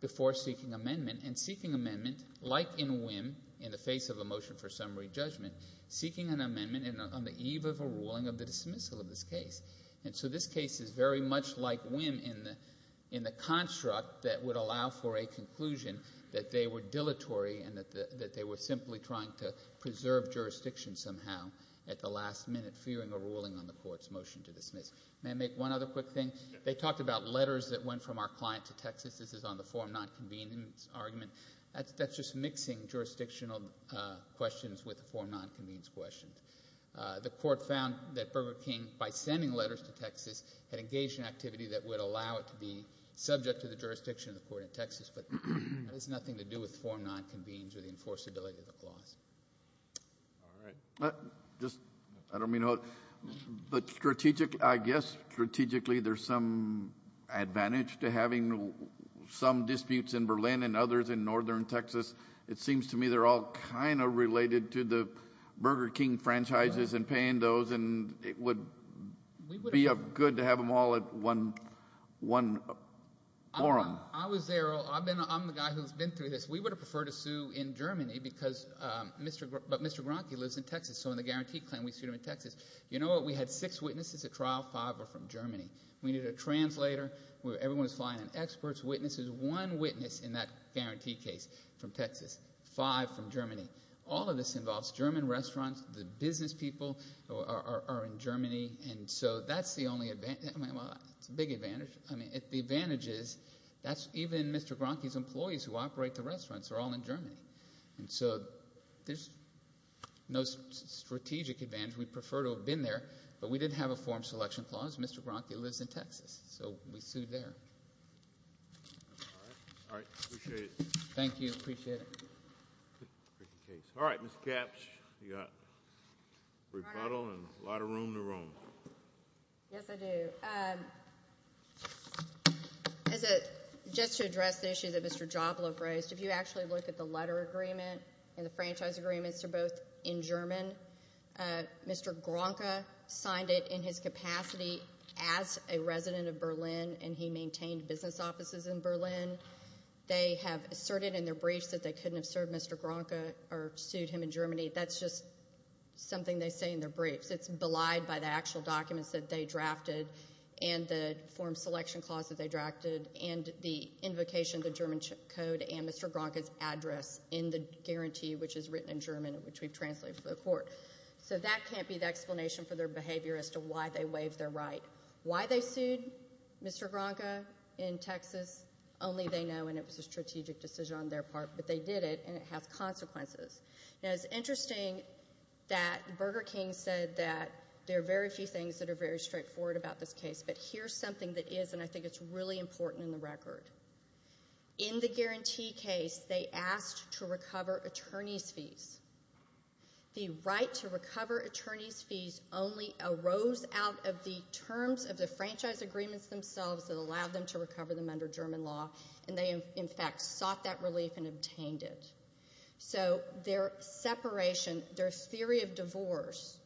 before seeking amendment, and seeking amendment like in Wim, in the face of a motion for summary judgment, seeking an amendment on the eve of a ruling of the dismissal of this case. And so this case is very much like Wim in the construct that it would allow for a conclusion that they were dilatory and that they were simply trying to preserve jurisdiction somehow at the last minute, fearing a ruling on the court's motion to dismiss. May I make one other quick thing? They talked about letters that went from our client to Texas. This is on the form non-convenience argument. That's just mixing jurisdictional questions with form non-convenience questions. The court found that Burger King, by sending letters to Texas, had engaged in activity that would allow it to be subject to the jurisdiction of the court in Texas, but it has nothing to do with form non-convenience or the enforceability of the clause. All right. I don't mean to... I guess strategically there's some advantage to having some disputes in Berlin and others in northern Texas. It seems to me they're all kind of related to the Burger King franchises and paying those, and it would be good to have them all at one forum. I was there. I'm the guy who's been through this. We would have preferred to sue in Germany because Mr. Gronke lives in Texas, so in the guarantee claim we sued him in Texas. You know what? We had six witnesses at trial. Five were from Germany. We needed a translator. Everyone was flying in experts. Witnesses. One witness in that guarantee case from Texas. Five from Germany. All of this involves German restaurants. The business people are in Germany. It's a big advantage. The advantage is even Mr. Gronke's employees who operate the restaurants are all in Germany. There's no strategic advantage. We'd prefer to have been there, but we didn't have a forum selection clause. Mr. Gronke lives in Texas, so we sued there. All right. Appreciate it. Thank you. Appreciate it. All right, Mr. Kapsch. You got rebuttal and a lot of room to roam. Yes, I do. Just to address the issue that Mr. Jopla raised, if you actually look at the letter agreement and the franchise agreements, they're both in German. Mr. Gronke signed it in his capacity as a resident of Berlin and he maintained business offices in Berlin. They have asserted in their briefs that they couldn't have sued Mr. Gronke or sued him in Germany. That's just something they say in their briefs. It's belied by the actual documents that they drafted and the forum selection clause that they drafted and the invocation of the German code and Mr. Gronke's address in the guarantee, which is written in German, which we've translated for the court. So that can't be the explanation for their behavior as to why they waived their right. Why they sued Mr. Gronke in Texas only they know, and it was a strategic decision on their part, but they did it and it has consequences. Now, it's interesting that Burger King said that there are very few things that are very straightforward about this case, but here's something that is, and I think it's really important in the record. In the guarantee case, they asked to recover attorney's fees. The right to recover attorney's fees only arose out of the terms of the franchise agreements themselves that allowed them to recover them under German law, and they in fact sought that relief and obtained it. So their separation, their theory of divorce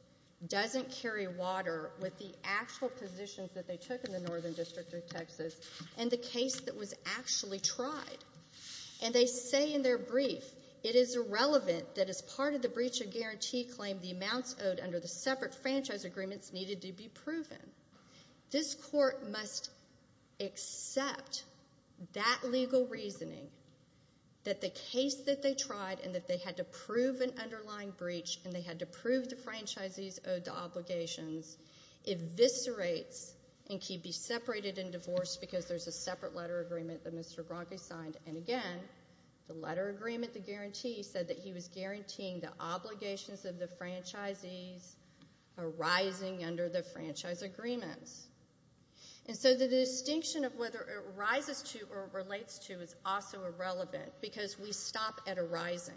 doesn't carry water with the actual positions that they took in the Northern District of Texas and the case that was actually tried. And they say in their brief, it is irrelevant that as part of the breach of guarantee claim, the amounts owed under the separate franchise agreements needed to be proven. This court must accept that legal reasoning that the case that they tried and that they had to prove an underlying breach and they had to prove the franchisees owed the obligations eviscerates and can be separated and divorced because there's a separate letter agreement that Mr. Gronkow signed, and again, the letter agreement, the guarantee, said that he was guaranteeing the obligations of the franchisees arising under the franchise agreements. And so the distinction of whether it arises to or relates to is also irrelevant because we stop at arising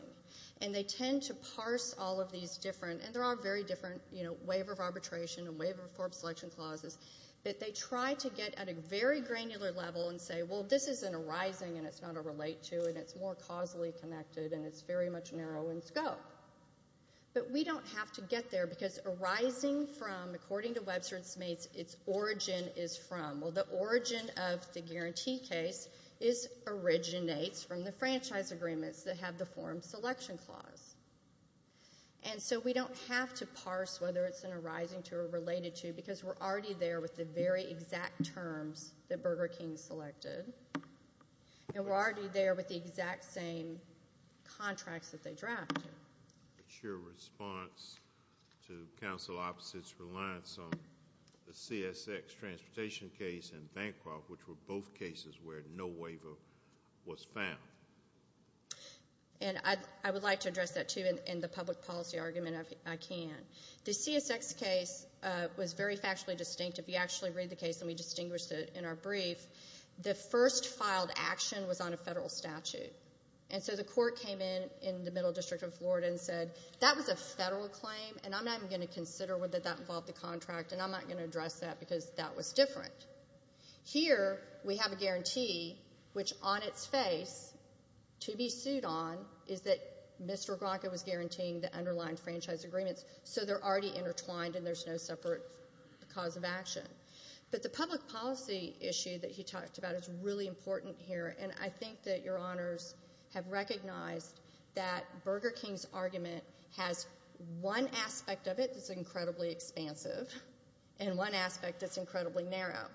and they tend to parse all of these different, and there are very different waiver of arbitration and waiver of selection clauses, that they try to get at a very granular level and say, well, this is an arising and it's not a relate to and it's more causally connected and it's very much narrow in scope. But we don't have to get there because arising from according to Webster and Smates, its origin is from, well, the origin of the guarantee case originates from the franchise agreements that have the forum selection clause. And so we don't have to parse whether it's an arising to or related to because we're already there with the very exact terms that Burger King selected and we're already there with the exact same contracts that they drafted. But your response to counsel opposite's reliance on the CSX transportation case and Bancroft, which were both cases where no waiver was found. And I would like to address that too in the public policy argument if I can. The CSX case was very factually distinctive. You actually read the case and we distinguished it in our brief. The first filed action was on a federal statute. And so the court came in in the middle district of and I'm not even going to consider whether that involved the contract and I'm not going to address that because that was different. Here we have a guarantee which on its face to be sued on is that Mr. Gronkow was guaranteeing the underlying franchise agreements so they're already intertwined and there's no separate cause of action. But the public policy issue that he talked about is really important here and I think that your honors have recognized that Burger King's has one aspect of it that's incredibly expansive and one aspect that's incredibly narrow.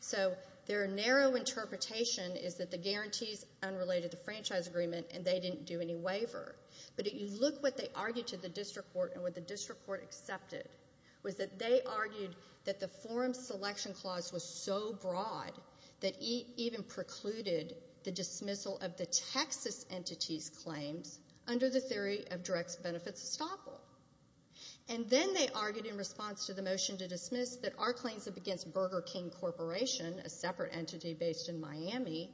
So their narrow interpretation is that the guarantees unrelated to franchise agreement and they didn't do any waiver. But if you look what they argued to the district court and what the district court accepted was that they argued that the forum selection clause was so broad that even precluded the dismissal of the Texas entity's claims under the theory of direct benefits estoppel. And then they argued in response to the motion to dismiss that our claims against Burger King Corporation, a separate entity based in Miami,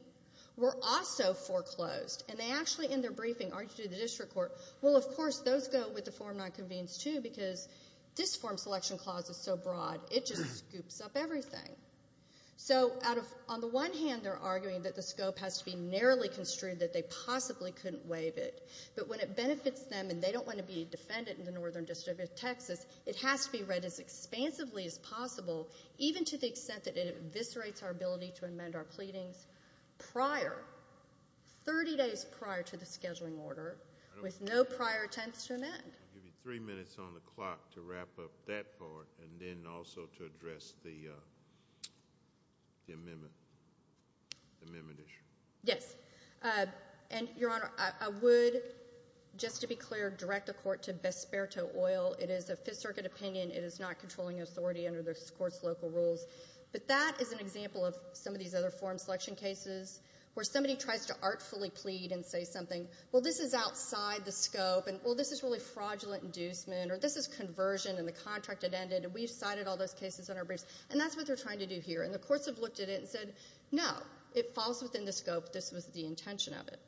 were also foreclosed. And they actually in their briefing argued to the district court well of course those go with the form not convened too because this form selection clause is so broad it just scoops up everything. So on the one hand they're arguing that the scope has to be narrowly construed that they possibly couldn't waive it. But when it benefits them and they don't want to be defendant in the Northern District of Texas it has to be read as expansively as possible even to the extent that it eviscerates our ability to amend our pleadings prior 30 days prior to the scheduling order with no prior attempts to amend. I'll give you three minutes on the clock to wrap up that part and then also to address the amendment amendment issue. Yes. And Your Honor, I would just to be clear direct the court to Besperto Oil. It is a Fifth Circuit opinion it is not controlling authority under this court's local rules. But that is an example of some of these other form selection cases where somebody tries to artfully plead and say something well this is outside the scope and well this is really fraudulent inducement or this is conversion and the contract had ended and we cited all those cases in our briefs and that's what we're trying to do here and the courts have looked at it and said no it falls within the scope this was the intention of it.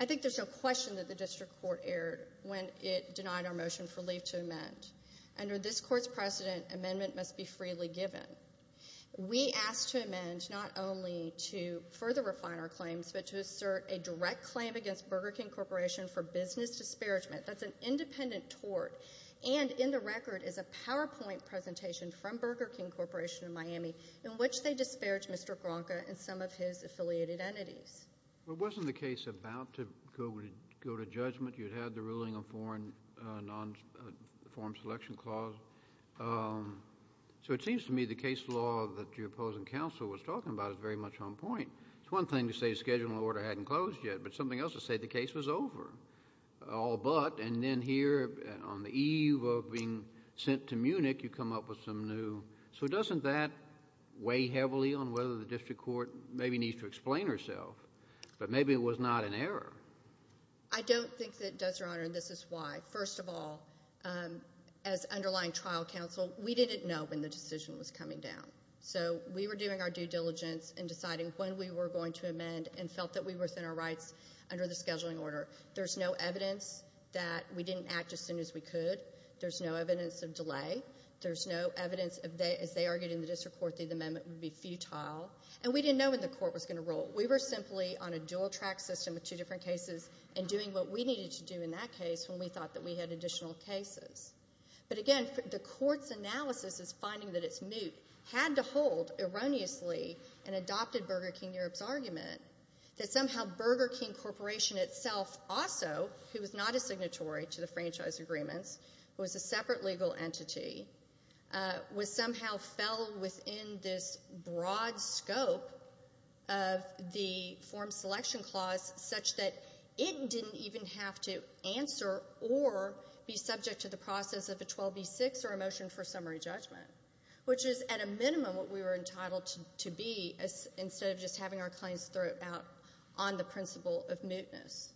I think there's a question that the district court aired when it denied our motion for leave to amend under this court's precedent amendment must be freely given we asked to amend not only to further refine our claims but to assert a direct claim against Burger King Corporation for business disparagement. That's an independent tort and in the record is a PowerPoint presentation from Burger King Corporation in Miami in which they disparage Mr. Gronka and some of his affiliated entities. Well wasn't the case about to go to judgment you'd had the ruling on foreign non-form selection clause so it seems to me the case law that your opposing counsel was talking about is very much on point. It's one thing to say a schedule order hadn't closed yet but something else to say the case was over all but and then here on the eve of being sent to Munich you come up with some new so doesn't that weigh heavily on whether the district court maybe needs to explain herself but maybe it was not an error. I don't think that does your honor and this is why first of all as underlying trial counsel we didn't know when the decision was coming down so we were doing our due diligence in deciding when we were going to amend and felt that we were within our rights under the scheduling order. There's no evidence that we didn't act as soon as we could there's no evidence of delay there's no evidence as they argued in the district court the amendment would be futile and we didn't know when the court was going to rule. We were simply on a dual track system with two different cases and doing what we needed to do in that case when we thought that we had additional cases but again the court's analysis is finding that it's moot had to hold erroneously and adopted Burger King Europe's argument that somehow Burger King Corporation itself also who was not a signatory to the franchise agreements was a separate legal entity was somehow fell within this broad scope of the form selection clause such that it didn't even have to answer or be subject to the process of a 12B6 or a motion for summary judgment which is at a minimum what we were entitled to be instead of just having our claims thrown out on the principle of mootness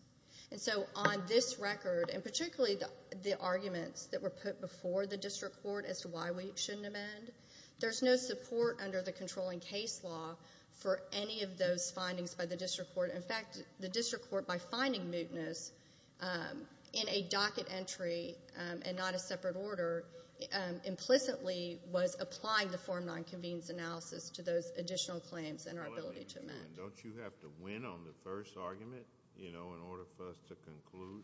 and so on this record and particularly the arguments that were put before the district court as to why we shouldn't amend there's no support under the controlling case law for any of those findings by the district court in fact the district court by finding mootness in a docket entry and not a separate order implicitly was applying the Form 9 Convenes analysis to those additional claims and has inter-ability to amend Don't you have to win on the first argument in order for us to conclude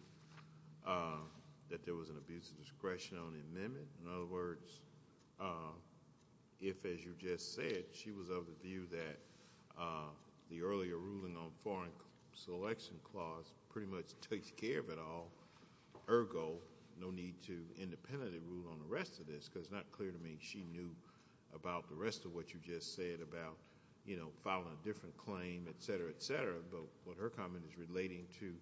that there was an abuse of discretion on the amendment in other words if as you just said she was of the view that the earlier ruling on foreign selection clause pretty much takes care of it all ergo no need to independently rule on the rest of this because it's not clear to me she knew about the rest of what you just said about you know filing a different claim etc. etc. but her comment is relating to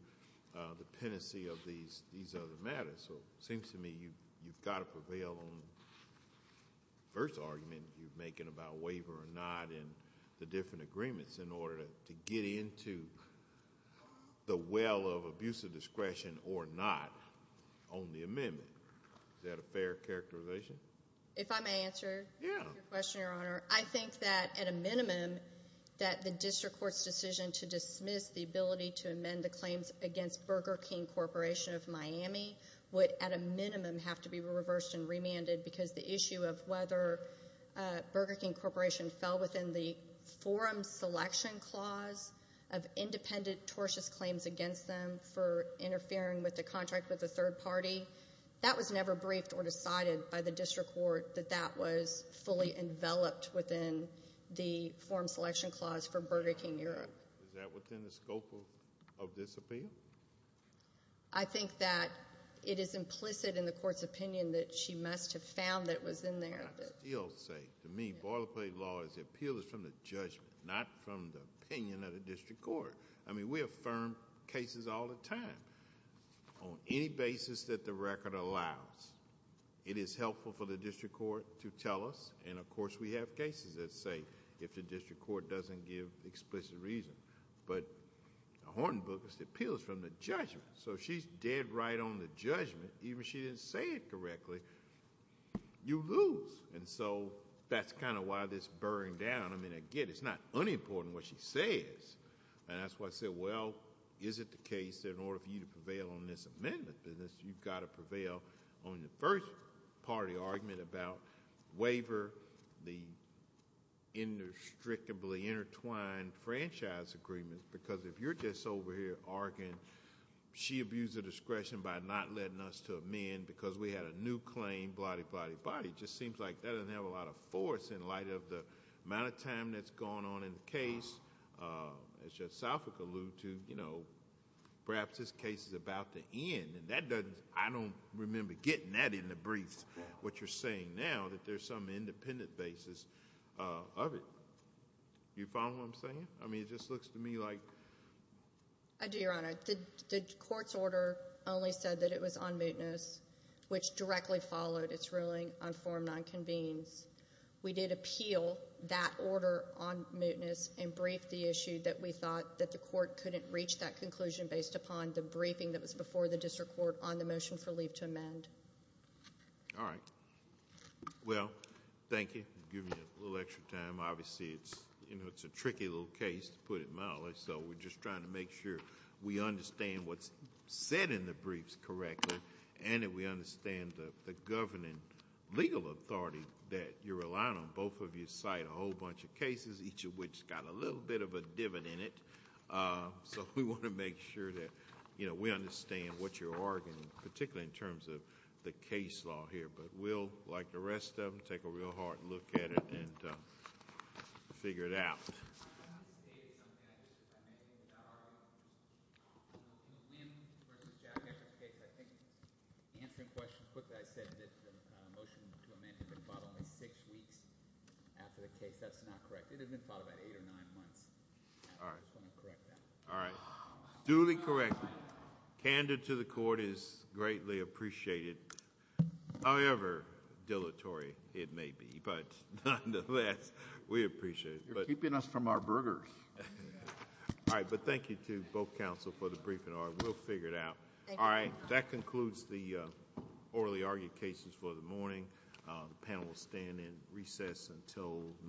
the pendency of these other matters so seems to me you've got to prevail on the first argument you're making about waiver or not and the different agreements in order to get into the well of abuse of discretion or not on the amendment is that a fair characterization? If I may answer your question your honor I think that at a minimum that the district courts decision to dismiss the ability to amend the claims against Burger King Corporation of Miami would at a minimum have to be reversed and remanded because the issue of whether Burger King Corporation fell within the forum selection clause of independent tortious claims against them for interfering with the contract with the third party that was never briefed or decided by the district court that that was fully enveloped within the forum selection clause for Burger King Europe. Is that within the scope of this appeal? I think that it is implicit in the court's opinion that she must have found that was in there. I would still say to me boilerplate law is the appeal is from the judgment not from the opinion of the district court. I mean we affirm cases all the time on any basis that the record allows. It is helpful for the district court to tell us and of course we have cases that say if the district court doesn't give explicit reason but Horton Booker's appeal is from the judgment so she's dead right on the judgment even if she didn't say it correctly you lose and so that's kind of why this burned down. I mean again it's not unimportant what she says and that's why I said well is it the case that in order for you to prevail on this amendment business you've got to prevail on the first part of the argument about waiver the indestructibly intertwined franchise agreement because if you're just over here arguing she abused the discretion by not letting us to amend because we had a new claim blahdy blahdy blahdy just seems like that doesn't have a lot of force in light of the amount of time that's gone on in the case as Judge Southwick alluded to you know perhaps this case is about to end and that doesn't I don't remember getting that in the briefs what you're saying now that there's some independent basis of it you follow what I'm saying? I mean it just looks to me like I do your honor the court's order only said that it was on mootness which directly followed its ruling on form nine convenes we did appeal that order on mootness and brief the issue that we thought that the court couldn't reach that conclusion based upon the briefing that was before the district court on the motion for leave to amend alright well thank you give me a little extra time obviously it's a tricky little case to put it mildly so we're just trying to make sure we understand what's said in the briefs correctly and that we understand the governing legal authority that you're each of which has got a little bit of a divot in it so we want to make sure that we understand what you're arguing particularly in terms of the case law here but we'll like the rest of them take a real hard look at it and figure it out I just want to say something if I may I think answering questions quickly I said that the motion to amend had been fought only 6 weeks after the case that's not correct it had been fought about 8 or 9 months I just want to correct that duly corrected candid to the court is greatly appreciated however dilatory it may be but nonetheless we appreciate it you're keeping us from our burgers but thank you to both counsel for the briefing we'll figure it out that concludes the orally argued cases for the morning the panel will stand in recess until